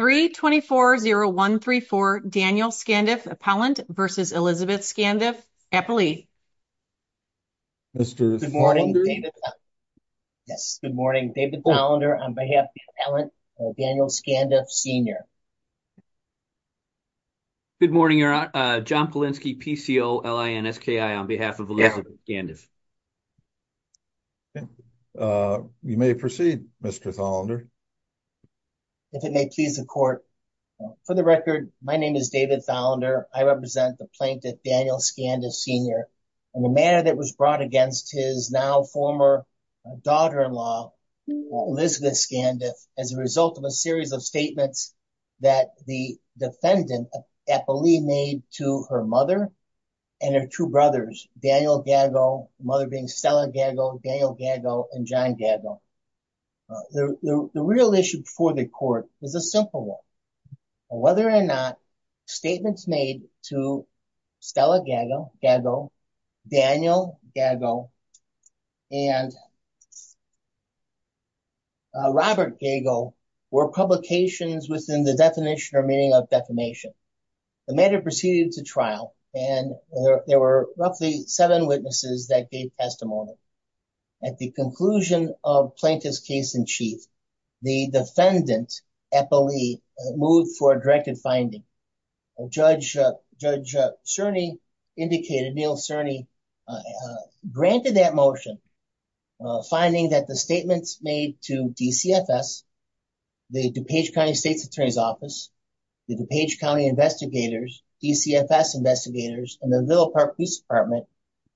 3-24-0-1-3-4 Daniel Scandiff, Appellant v. Elizabeth Scandiff, Appallee Good morning, David Thollander, on behalf of the Appellant, Daniel Scandiff Sr. Good morning, John Polinski, PCOLINSKI, on behalf of Elizabeth Scandiff. You may proceed, Mr. Thollander. If it may please the court, for the record, my name is David Thollander. I represent the plaintiff, Daniel Scandiff Sr. And the matter that was brought against his now former daughter-in-law, Elizabeth Scandiff, as a result of a series of statements that the defendant, Appallee, made to her mother and her two brothers, Daniel Gago, the mother being Stella Gago, Daniel Gago, and John Gago. The real issue before the court is a simple one. Whether or not statements made to Stella Gago, Daniel Gago, and Robert Gago were publications within the definition or meaning of defamation. The matter proceeded to trial, and there were roughly seven witnesses that gave testimony. At the conclusion of Plaintiff's Case-in-Chief, the defendant, Appallee, moved for a directed finding. Judge Cerny indicated, Neal Cerny, granted that motion, finding that the statements made to DCFS, the DuPage County State's Attorney's Office, the DuPage County investigators, DCFS investigators, and the Ville Park Police Department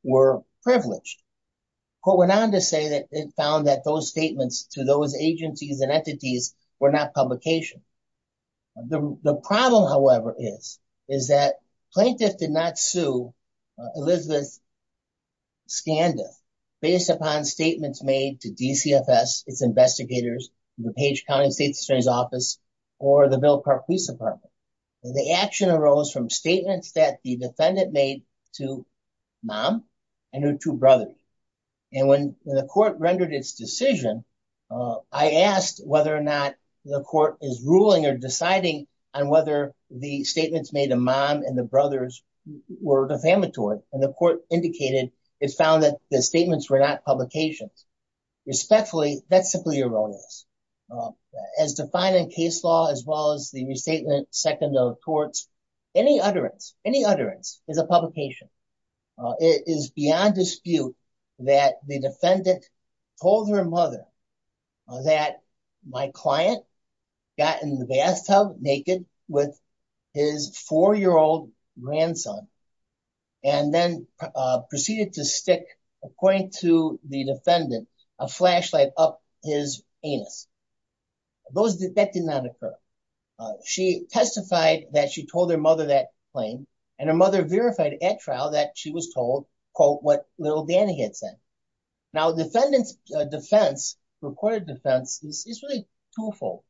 were privileged. The court went on to say that it found that those statements to those agencies and entities were not publications. The problem, however, is that plaintiff did not sue Elizabeth Scandiff based upon statements made to DCFS, its investigators, DuPage County State's Attorney's Office, or the Ville Park Police Department. The action arose from statements that the defendant made to mom and her two brothers. And when the court rendered its decision, I asked whether or not the court is ruling or deciding on whether the statements made to mom and the brothers were defamatory. And the court indicated it found that the statements were not publications. Respectfully, that's simply erroneous. As defined in case law, as well as the restatement seconded to the courts, any utterance, any utterance is a publication. It is beyond dispute that the defendant told her mother that my client got in the bathtub naked with his four-year-old grandson and then proceeded to stick, according to the defendant, a flashlight up his anus. That did not occur. She testified that she told her mother that claim, and her mother verified at trial that she was told, quote, what little Danny had said. Now, defendant's defense, recorded defense, is really twofold,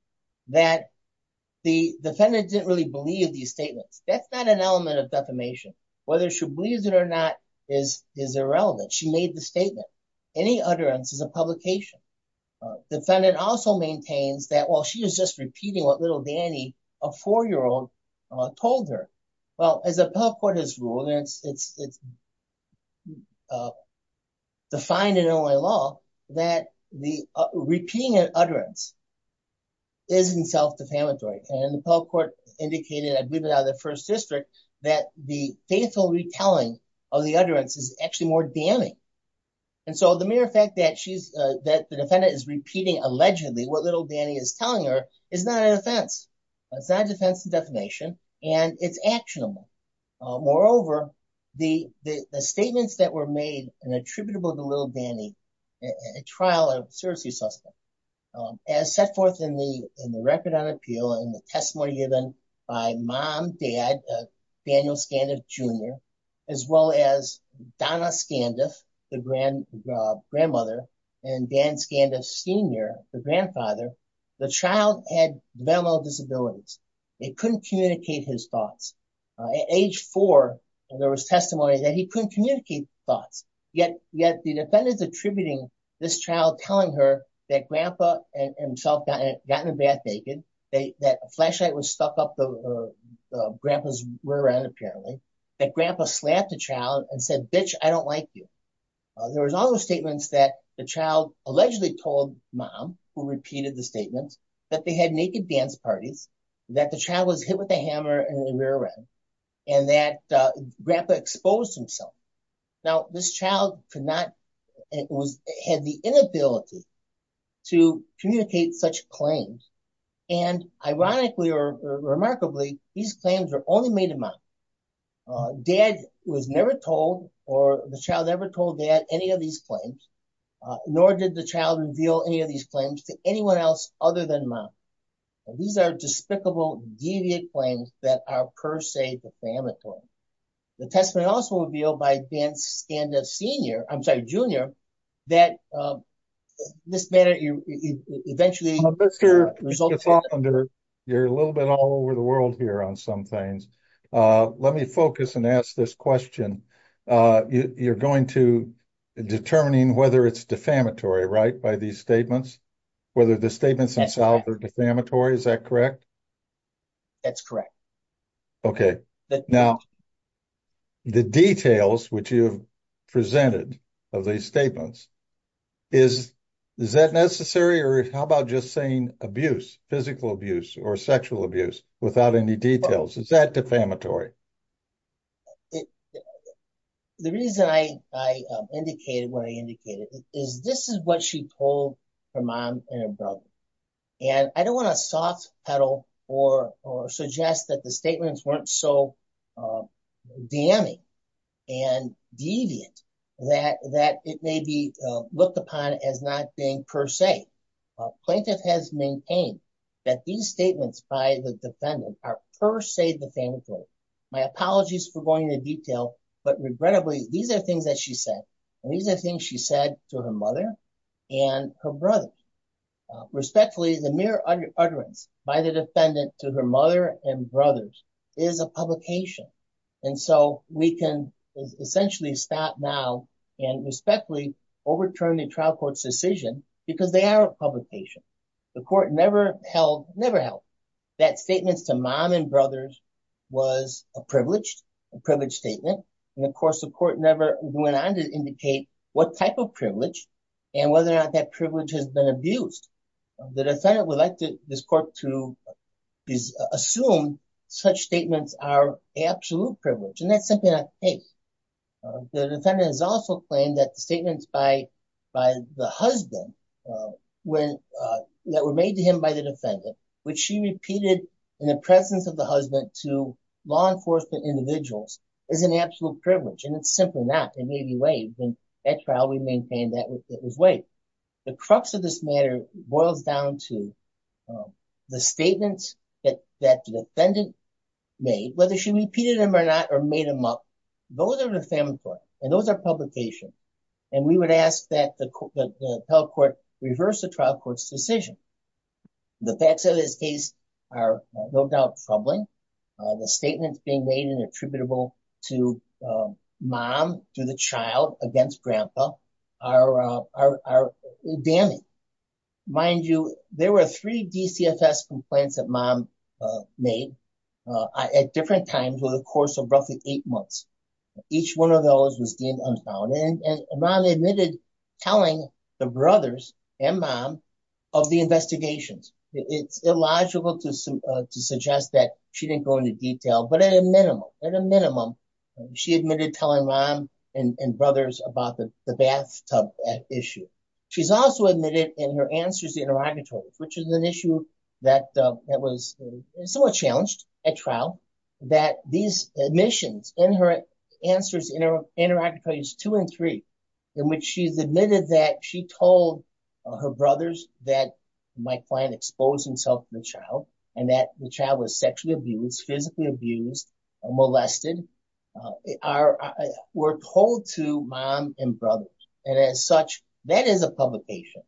that the defendant didn't really believe these statements. That's not an element of defamation. Whether she believes it or not is irrelevant. She made the statement. Any utterance is a publication. Defendant also maintains that, well, she was just repeating what little Danny, a four-year-old, told her. Well, as the appellate court has ruled, and it's defined in Illinois law, that repeating an utterance isn't self-defamatory. And the appellate court indicated, I believe it out of the First District, that the faithful retelling of the utterance is actually more damning. And so the mere fact that the defendant is repeating allegedly what little Danny is telling her is not an offense. It's not a defense to defamation, and it's actionable. Moreover, the statements that were made attributable to little Danny at trial are seriously suspect. As set forth in the record on appeal and the testimony given by mom, dad, Daniel Scandiff Jr., as well as Donna Scandiff, the grandmother, and Dan Scandiff Sr., the grandfather, the child had developmental disabilities. They couldn't communicate his thoughts. At age four, there was testimony that he couldn't communicate thoughts. Yet the defendant is attributing this child telling her that grandpa and himself got in a bath naked, that a flashlight was stuck up the grandpa's rear end, apparently, that grandpa slapped the child and said, bitch, I don't like you. There was also statements that the child allegedly told mom, who repeated the statements, that they had naked dance parties, that the child was hit with a hammer in the rear end, and that grandpa exposed himself. Now, this child had the inability to communicate such claims. And ironically or remarkably, these claims were only made to mom. Dad was never told, or the child never told dad any of these claims, nor did the child reveal any of these claims to anyone else other than mom. These are despicable, deviant claims that are per se defamatory. The testimony also revealed by Dan Scandiff Sr. I'm sorry, Jr., that in this manner, you eventually result in- Mr. Faulkner, you're a little bit all over the world here on some things. Let me focus and ask this question. You're going to determining whether it's defamatory, right, by these statements, whether the statements themselves are defamatory, is that correct? That's correct. Okay. Now, the details which you have presented of these statements, is that necessary? Or how about just saying abuse, physical abuse or sexual abuse without any details? Is that defamatory? The reason I indicated what I indicated is this is what she told her mom and her brother. And I don't want to soft pedal or suggest that the statements weren't so damning and deviant that it may be looked upon as not being per se. Plaintiff has maintained that these statements by the defendant are per se defamatory. My apologies for going into detail, but regrettably, these are things that she said. These are things she said to her mother and her brother. Respectfully, the mere utterance by the defendant to her mother and brothers is a publication. And so we can essentially stop now and respectfully overturn the trial court's decision because they are a publication. The court never held, never held that statements to mom and brothers was a privileged, a privileged statement. And of course, the court never went on to indicate what type of privilege and whether or not that privilege has been abused. The defendant would like this court to assume such statements are absolute privilege. And that's simply not the case. The defendant has also claimed that the statements by the husband that were made to him by the defendant, which she repeated in the presence of the husband to law enforcement individuals is an absolute privilege. And it's simply not. It may be waived. And at trial, we maintain that it was waived. The crux of this matter boils down to the statements that the defendant made, whether she repeated them or not, or made them up. Those are the family court and those are publication. And we would ask that the court reverse the trial court's decision. The facts of this case are no doubt troubling. The statements being made and attributable to mom, to the child against grandpa are damning. Mind you, there were three DCFS complaints that mom made at different times over the course of roughly eight months. Each one of those was deemed unfounded. And mom admitted telling the brothers and mom of the investigations. It's illogical to suggest that she didn't go into detail, but at a minimum, at a minimum, she admitted telling mom and brothers about the bathtub issue. She's also admitted in her answers to interrogatories, which is an issue that was somewhat challenged at trial, that these admissions in her answers, interrogatories two and three, in which she's admitted that she told her brothers that my client exposed himself to the child, and that the child was sexually abused, physically abused, molested, were told to mom and brothers. And as such, that is a publication.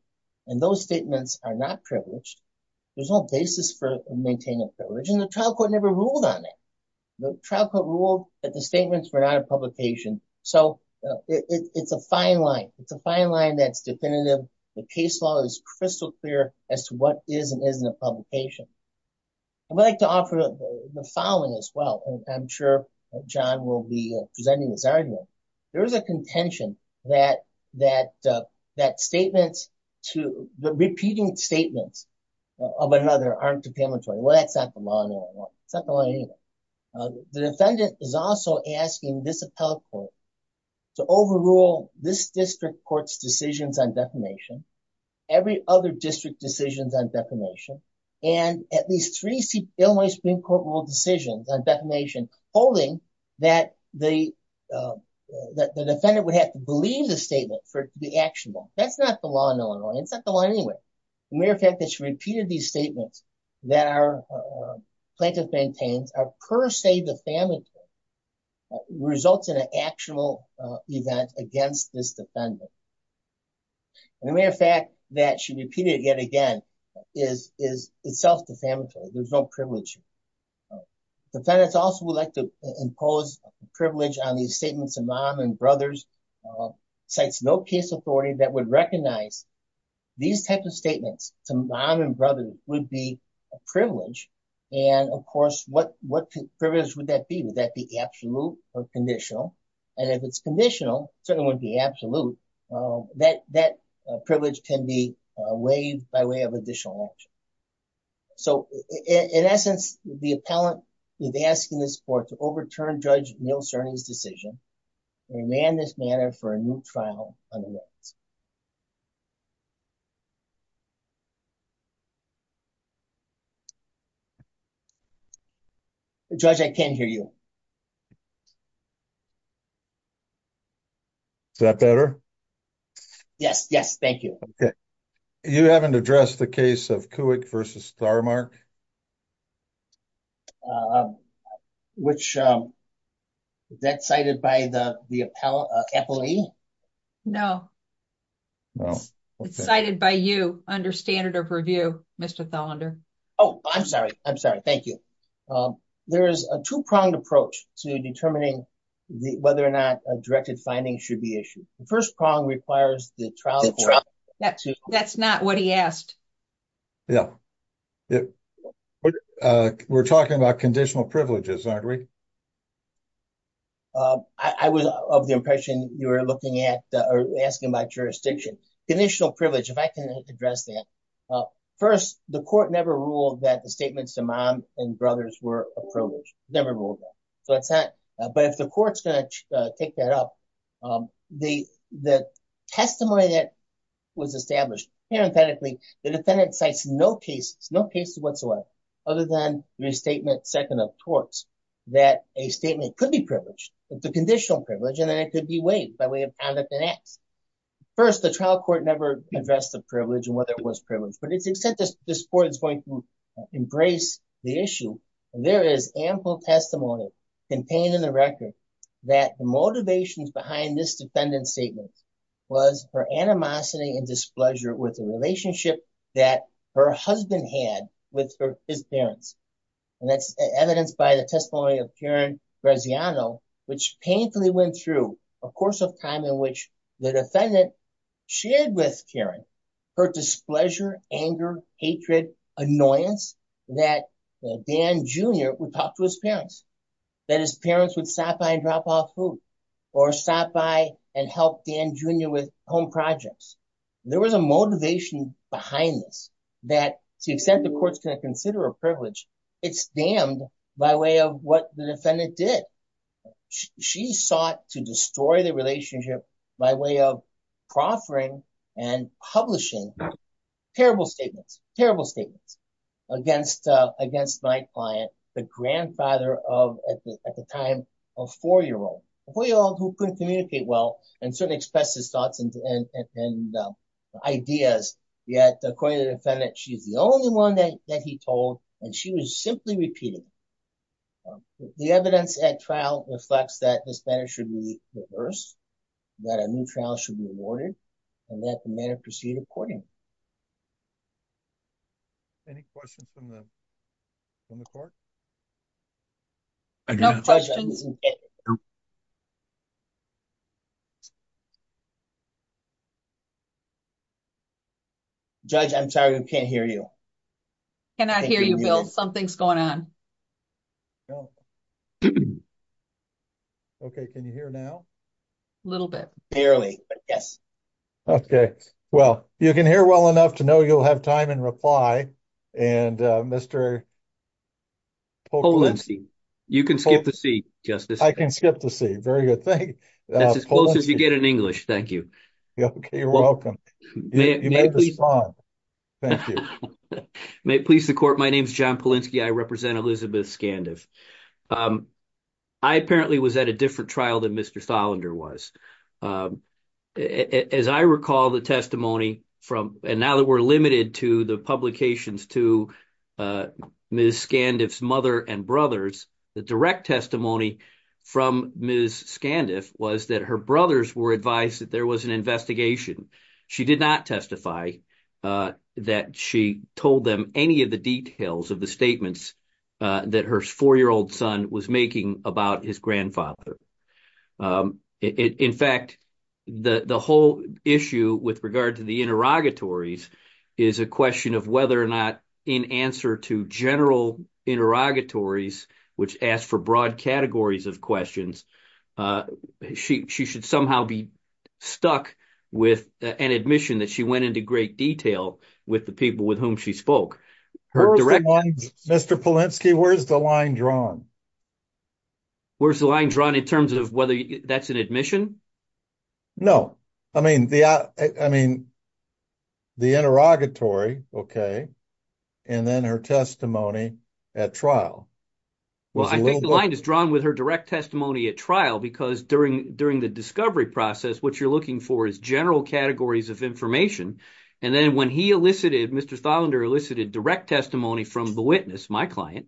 And those statements are not privileged. There's no basis for maintaining privilege. And the trial court never ruled on it. The trial court ruled that the statements were not a publication. So it's a fine line. It's a fine line that's definitive. The case law is crystal clear as to what is and isn't a publication. I'd like to offer the following as well. And I'm sure John will be presenting his argument. There is a contention that statements to the repeating statements of another aren't a punitory. Well, that's not the law anymore. It's not the law anymore. The defendant is also asking this appellate court to overrule this district court's decisions on defamation, every other district decisions on defamation, and at least three Illinois Supreme Court ruled decisions on defamation, holding that the defendant would have to believe the statement for it to be actionable. That's not the law in Illinois. It's not the law anywhere. The mere fact that she repeated these statements that our plaintiff maintains are per se defamatory results in an actual event against this defendant. And the mere fact that she repeated it yet again is itself defamatory. There's no privilege. Defendants also would like to impose privilege on these statements of mom and brothers. Cites no case authority that would recognize these types of statements to mom and brothers would be a privilege. And of course, what privilege would that be? Would that be absolute or conditional? And if it's conditional, it certainly wouldn't be absolute. That privilege can be waived by way of additional action. So, in essence, the appellant is asking this court to overturn Judge Neal Cerny's decision and demand this manner for a new trial on the witness. Judge, I can't hear you. Is that better? Yes, yes, thank you. Okay. You haven't addressed the case of court versus star mark. Which is that cited by the appellee? No. It's cited by you under standard of review, Mr. Thelander. Oh, I'm sorry. I'm sorry. Thank you. There is a two pronged approach to determining whether or not a directed finding should be issued. The first prong requires the trial. That's not what he asked. Yeah. We're talking about conditional privileges, aren't we? I was of the impression you were looking at or asking about jurisdiction. Conditional privilege, if I can address that. First, the court never ruled that the statements to mom and brothers were a privilege. Never ruled that. But if the court's going to take that up, the testimony that was established parenthetically, the defendant cites no cases, no cases whatsoever. Other than restatement second of torts. That a statement could be privileged. It's a conditional privilege. And then it could be waived by way of conduct and acts. First, the trial court never addressed the privilege and whether it was privileged. But to the extent this court is going to embrace the issue, there is ample testimony contained in the record that the motivations behind this defendant's statement was her animosity and displeasure with the relationship that her husband had with his parents. And that's evidenced by the testimony of Karen Graziano, which painfully went through a course of time in which the defendant shared with Karen her displeasure, anger, hatred, annoyance that Dan Jr. would talk to his parents. That his parents would stop by and drop off food. Or stop by and help Dan Jr. with home projects. There was a motivation behind this. That to the extent the court's going to consider a privilege, it's damned by way of what the defendant did. She sought to destroy the relationship by way of proffering and publishing terrible statements. Terrible statements. Against my client, the grandfather of, at the time, a four-year-old. A four-year-old who couldn't communicate well and certainly expressed his thoughts and ideas. Yet, according to the defendant, she's the only one that he told. And she was simply repeating. The evidence at trial reflects that this matter should be reversed. That a new trial should be awarded. And that the matter proceed accordingly. Any questions from the court? No questions. Judge, I'm sorry. I can't hear you. I cannot hear you, Bill. Something's going on. Okay. Can you hear now? A little bit. Barely, but yes. Okay. Well, you can hear well enough to know you'll have time in reply. And Mr. Polinsky. You can skip to C, Justice. I can skip to C. Very good. Thank you. That's as close as you get in English. Thank you. You're welcome. You may respond. Thank you. May it please the court, my name is John Polinsky. I represent Elizabeth Skandev. I apparently was at a different trial than Mr. Tholender was. As I recall the testimony from, and now that we're limited to the publications to Ms. Skandev's mother and brothers, the direct testimony from Ms. Skandev was that her brothers were advised that there was an investigation. She did not testify that she told them any of the details of the statements that her four-year-old son was making about his grandfather. In fact, the whole issue with regard to the interrogatories is a question of whether or not in answer to general interrogatories, which asks for broad categories of questions, she should somehow be stuck with an admission that she went into great detail with the people with whom she spoke. Mr. Polinsky, where's the line drawn? Where's the line drawn in terms of whether that's an admission? No. I mean, the interrogatory, and then her testimony at trial. Well, I think the line is drawn with her direct testimony at trial because during the discovery process, what you're looking for is general categories of information. And then when he elicited, Mr. Tholender elicited direct testimony from the witness, my client,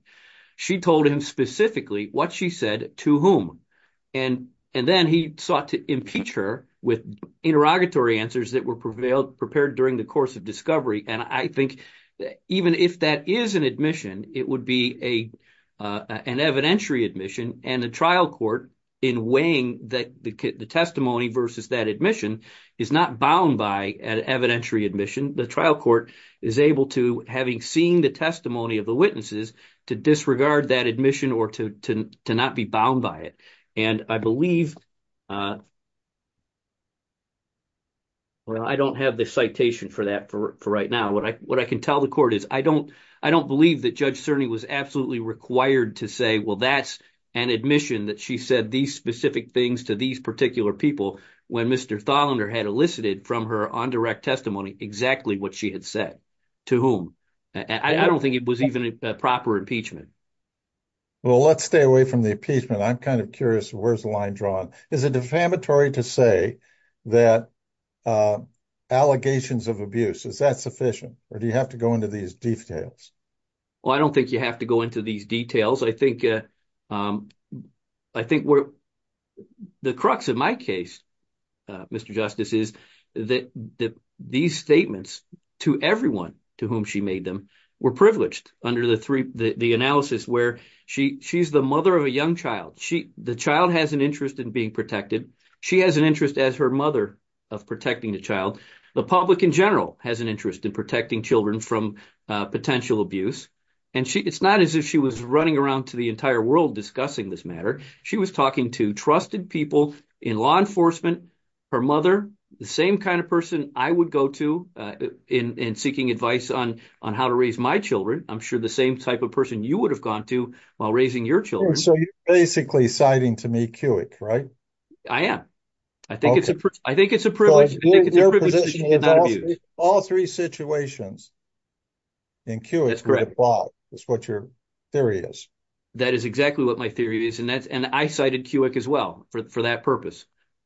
she told him specifically what she said to whom. and then he sought to impeach her with interrogatory answers that were prevailed prepared during the course of discovery. And I think that even if that is an admission, it would be a, an evidentiary admission and the trial court in weighing that the testimony versus that admission is not bound by an evidentiary admission. The trial court is able to having seen the testimony of the witnesses to disregard that admission or to, to not be bound by it. And I believe, well, I don't have the citation for that for right now. What I, what I can tell the court is I don't, I don't believe that judge Cerny was absolutely required to say, that's an admission that she said these specific things to these particular people. When Mr. Tholender had elicited from her on direct testimony, exactly what she had said to whom. I don't think it was even a proper impeachment. Well, let's stay away from the impeachment. I'm kind of curious. Where's the line drawn is a defamatory to say that allegations of abuse. Is that sufficient or do you have to go into these details? Well, I don't think you have to go into these details. I think I think we're the crux of my case. Mr. Justice is that the, these statements to everyone to whom she made them were privileged under the three, the analysis where she she's the mother of a young child. She, the child has an interest in being protected. She has an interest as her mother of protecting the child. The public in general has an interest in protecting children from potential abuse. And she, it's not as if she was running around to the entire world discussing this matter. She was talking to trusted people in law enforcement, her mother, the same kind of person. I would go to in, in seeking advice on, on how to raise my children. I'm sure the same type of person you would have gone to while raising your children. So you're basically citing to me, right? I am. I think it's a, I think it's a privilege. All three situations. And Q is correct. It's what your theory is. That is exactly what my theory is. And that's, and I cited as well for that purpose.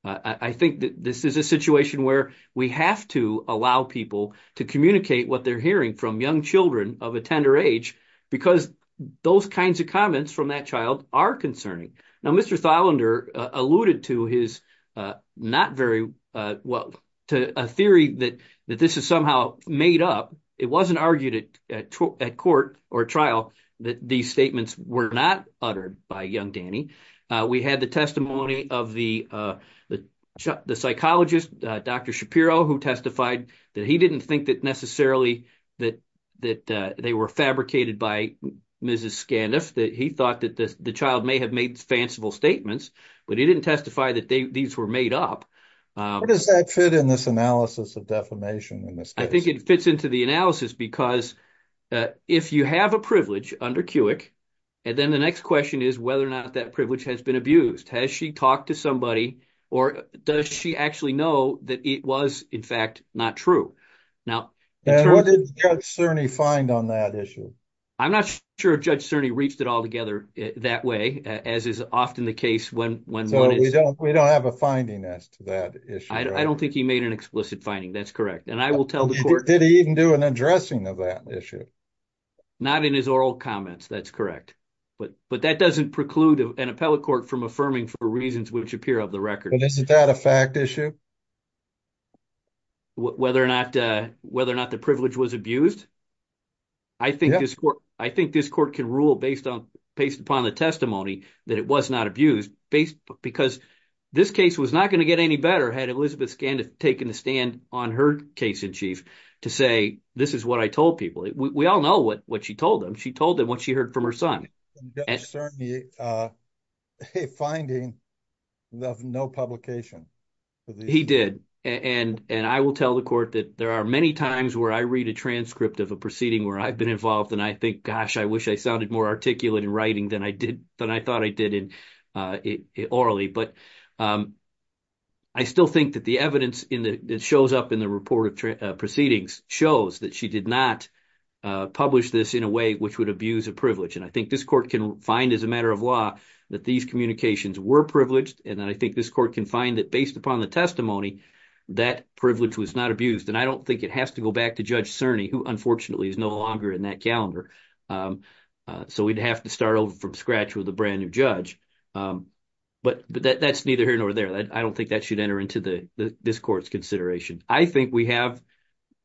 I think that this is a situation where we have to allow people to communicate what they're hearing from young children of a tender age, because those kinds of comments from that child are concerning. Now, Mr. Thylender alluded to his not very well to a theory that, that this is somehow made up. It wasn't argued at, at court or trial that these statements were not uttered by young Danny. We had the testimony of the, the, the psychologist, Dr. Shapiro, who testified that he didn't think that necessarily that, that they were fabricated by Mrs. Scaniff, that he thought that the child may have made fanciful statements, but he didn't testify that they, these were made up. Does that fit in this analysis of defamation? I think it fits into the analysis because if you have a privilege under you have to know that that privilege has been abused. Has she talked to somebody or does she actually know that it was in fact, not true? Judge Cerny find on that issue. I'm not sure. Judge Cerny reached it all together that way as is often the case when, when we don't, we don't have a finding as to that issue. I don't think he made an explicit finding. That's correct. And I will tell the court, did he even do an addressing of that issue? Not in his oral comments. That's correct. But, but that doesn't preclude an appellate court from affirming for reasons which appear of the record. Isn't that a fact issue? Whether or not, whether or not the privilege was abused. I think this court, I think this court can rule based on, based upon the testimony that it was not abused based because this case was not going to get any better. Had Elizabeth Scaniff taken a stand on her case in chief to say, this is what I told people. We all know what, what she told them. She told them what she heard from her son. A finding of no publication. He did. and I will tell the court that there are many times where I read a transcript of a proceeding where I've been involved and I think, I wish I sounded more articulate in writing than I did than I thought I did in orally. But I still think that the evidence in the, it shows up in the report of proceedings shows that she did not publish this in a way which would abuse a privilege. And I think this court can find as a matter of law that these communications were privileged. And then I think this court can find that based upon the testimony that privilege was not abused. And I don't think it has to go back to judge Cerny who unfortunately is no longer in that calendar. So we'd have to start over from scratch with a brand new judge. But that's neither here nor there. I don't think that should enter into the, this court's consideration. I think we have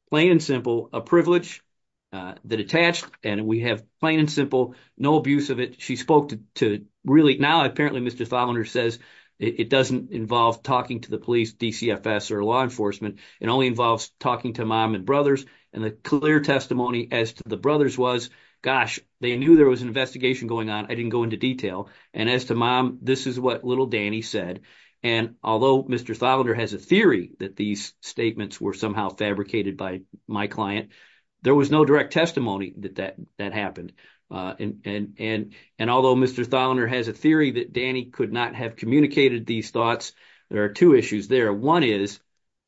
plain and simple, a privilege that attached and we have plain and simple, no abuse of it. She spoke to really now, apparently Mr. Fowler says it doesn't involve talking to the police, DCFS or law enforcement. It only involves talking to mom and brothers. And the clear testimony as to the brothers was gosh, they knew there was an investigation going on. I didn't go into detail. And as to mom, this is what little Danny said. And although Mr. Fowler has a theory that these statements were somehow fabricated by my client, there was no direct testimony that that, that happened. And, and, and although Mr. Fowler has a theory that Danny could not have communicated these thoughts, there are two issues there. One is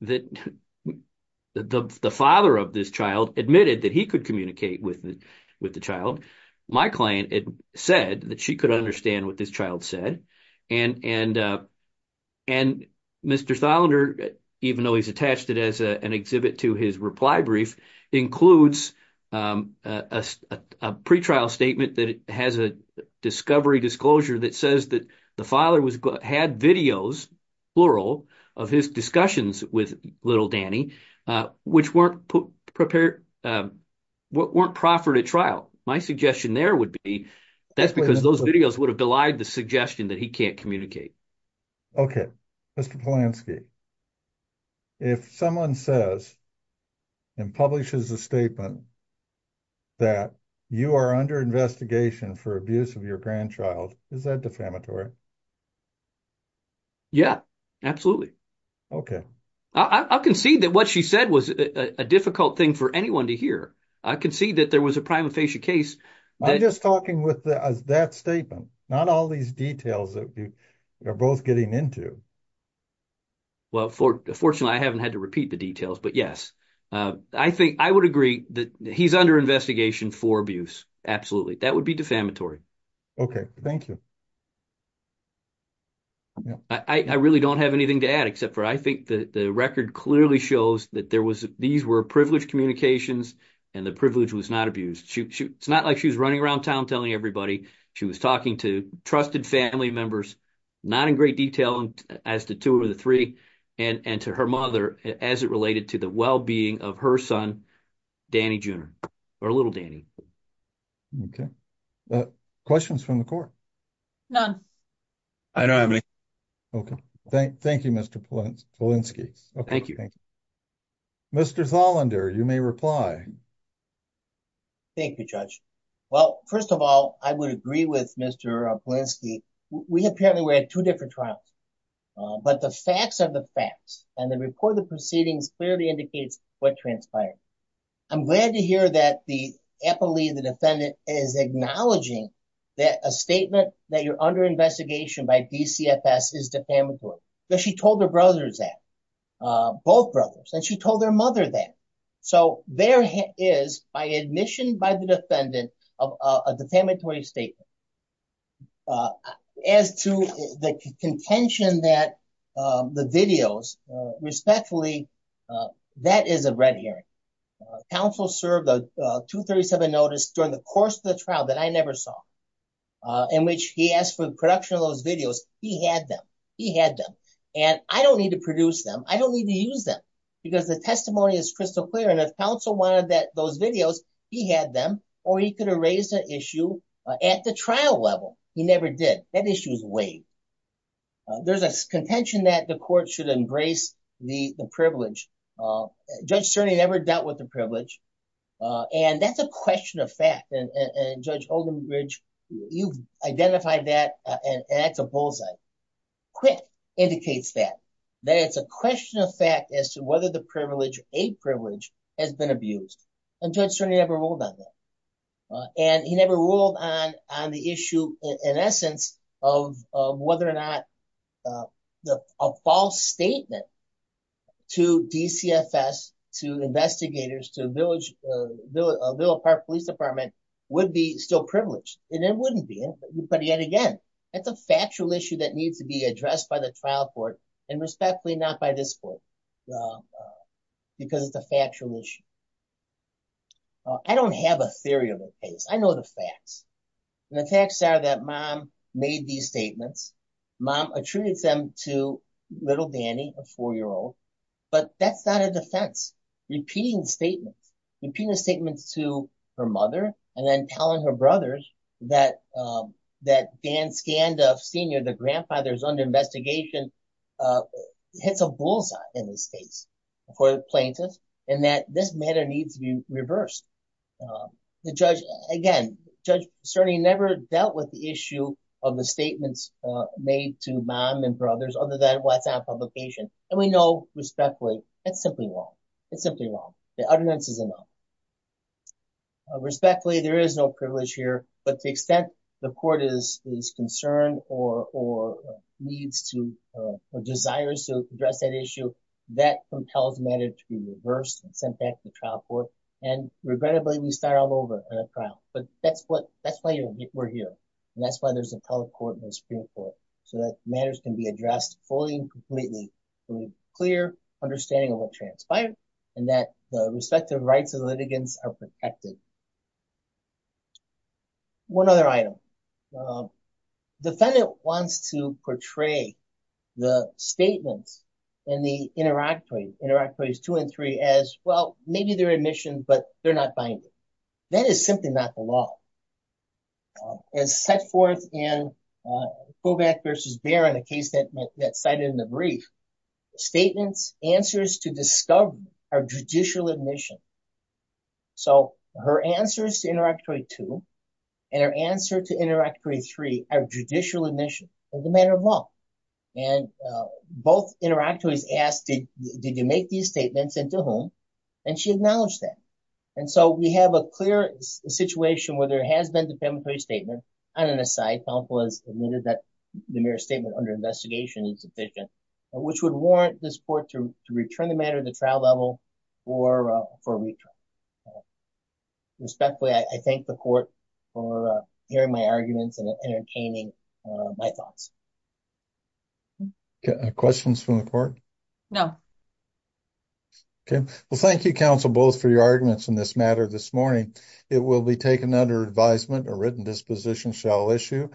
that the, the father of this child admitted that he could communicate with the, with the child. My client said that she could understand what this child said. And, and, and Mr. even though he's attached it as an exhibit to his reply brief includes a pretrial statement that has a discovery disclosure that says that the father was, had videos plural of his discussions with little Danny, which weren't prepared, weren't proffered at trial. My suggestion there would be that's because those videos would have the suggestion that he can't communicate. Mr. Polanski, if someone says and publishes a statement that you are under investigation for abuse of your grandchild, is that defamatory? Yeah, absolutely. Okay. I can see that what she said was a difficult thing for anyone to hear. I can see that there was a prima facie case. I'm just talking with the, as that statement, not all these details that you are both getting into. fortunately I haven't had to repeat the details, but yes, I think I would agree that he's under investigation for abuse. Absolutely. That would be defamatory. Okay. Thank you. I really don't have anything to add except for, I think that the record clearly shows that there was, these were privileged communications and the privilege was not abused. It's not like she was running around town telling everybody she was talking to trusted family members, not in great detail as to two of the three and, and to her mother, as it related to the wellbeing of her son, Danny Jr. Or little Danny. Okay. Questions from the court. None. I don't have any. Okay. Thank you, Mr. Polanski. Okay. Thank you. Mr. Zolander, you may reply. Thank you, judge. Well, first of all, I would agree with Mr. We apparently, we had two different trials, but the facts of the facts and the report, the proceedings clearly indicates what transpired. I'm glad to hear that. The Eppley, the defendant is acknowledging that a statement that you're under investigation by DCFS is defamatory. That she told her brothers that both brothers and she told their mother that. So there is by admission by the defendant of a defamatory statement. As to the contention that the videos respectfully, that is a red herring. Counsel served a two 37 notice during the course of the trial that I never saw. In which he asked for the production of those videos. He had them, he had them and I don't need to produce them. I don't need to use them because the testimony is crystal clear. And if counsel wanted that, those videos he had them, or he could have raised an issue at the trial level. He never did. That issue is way. There's a contention that the court should embrace the, the privilege. Judge Cerny never dealt with the privilege. And that's a question of fact. and judge Olden bridge, you've identified that. And that's a bullseye quick indicates that. That it's a question of fact as to whether the privilege, a privilege has been abused. And judge Cerny never ruled on that. And he never ruled on, on the issue in essence of whether or not the, a false statement to DCFS, to investigators, to village, a little park police department would be still privileged. And it wouldn't be. But yet again, That's a factual issue that needs to be addressed by the trial court. And respectfully, not by this court. Because it's a factual issue. I don't have a theory of it. I know the facts. And the facts are that mom made these statements. Mom attributes them to little Danny, a four-year-old, but that's not a defense. Repeating statements, repeating statements to her mother, and then telling her brothers that, that Dan scanned of senior, the grandfather's under investigation, hits a bullseye in this case for plaintiffs. And that this matter needs to be reversed. The judge again, judge Cerny never dealt with the issue of the statements made to mom and brothers, other than what's on publication. And we know respectfully, it's simply wrong. It's simply wrong. The utterance is enough. Respectfully, there is no privilege here, but to the extent the court is, is concerned or, or needs to, or desires to address that issue that compels matter to be reversed and sent back to the trial court. And regrettably, we start all over at a trial, but that's what, that's why we're here. And that's why there's a public court in the Supreme court. So that matters can be addressed fully and completely. Clear understanding of what transpired and that the respective rights of litigants are protected. One other item. Defendant wants to portray the statements in the interactory interactory is two and three as well. Maybe they're admission, but they're not binding. That is simply not the law. As set forth in Kovac versus Baron, a case that, that cited in the brief statements, answers to discover our judicial admission. So her answers, Interactory two and her answer to interact three, three are judicial admission of the matter of law. And both interact with, he's asked, did you make these statements into home? And she acknowledged that. And so we have a clear situation where there has been the family statement on an aside, powerful as admitted that the mirror statement under investigation is sufficient, which would warrant the support to return the matter of the trial level or for return. Respectfully. I thank the court for hearing my arguments and entertaining my thoughts. Questions from the court. Okay. Well, thank you counsel both for your arguments in this matter this morning, it will be taken under advisement or written disposition shall issue.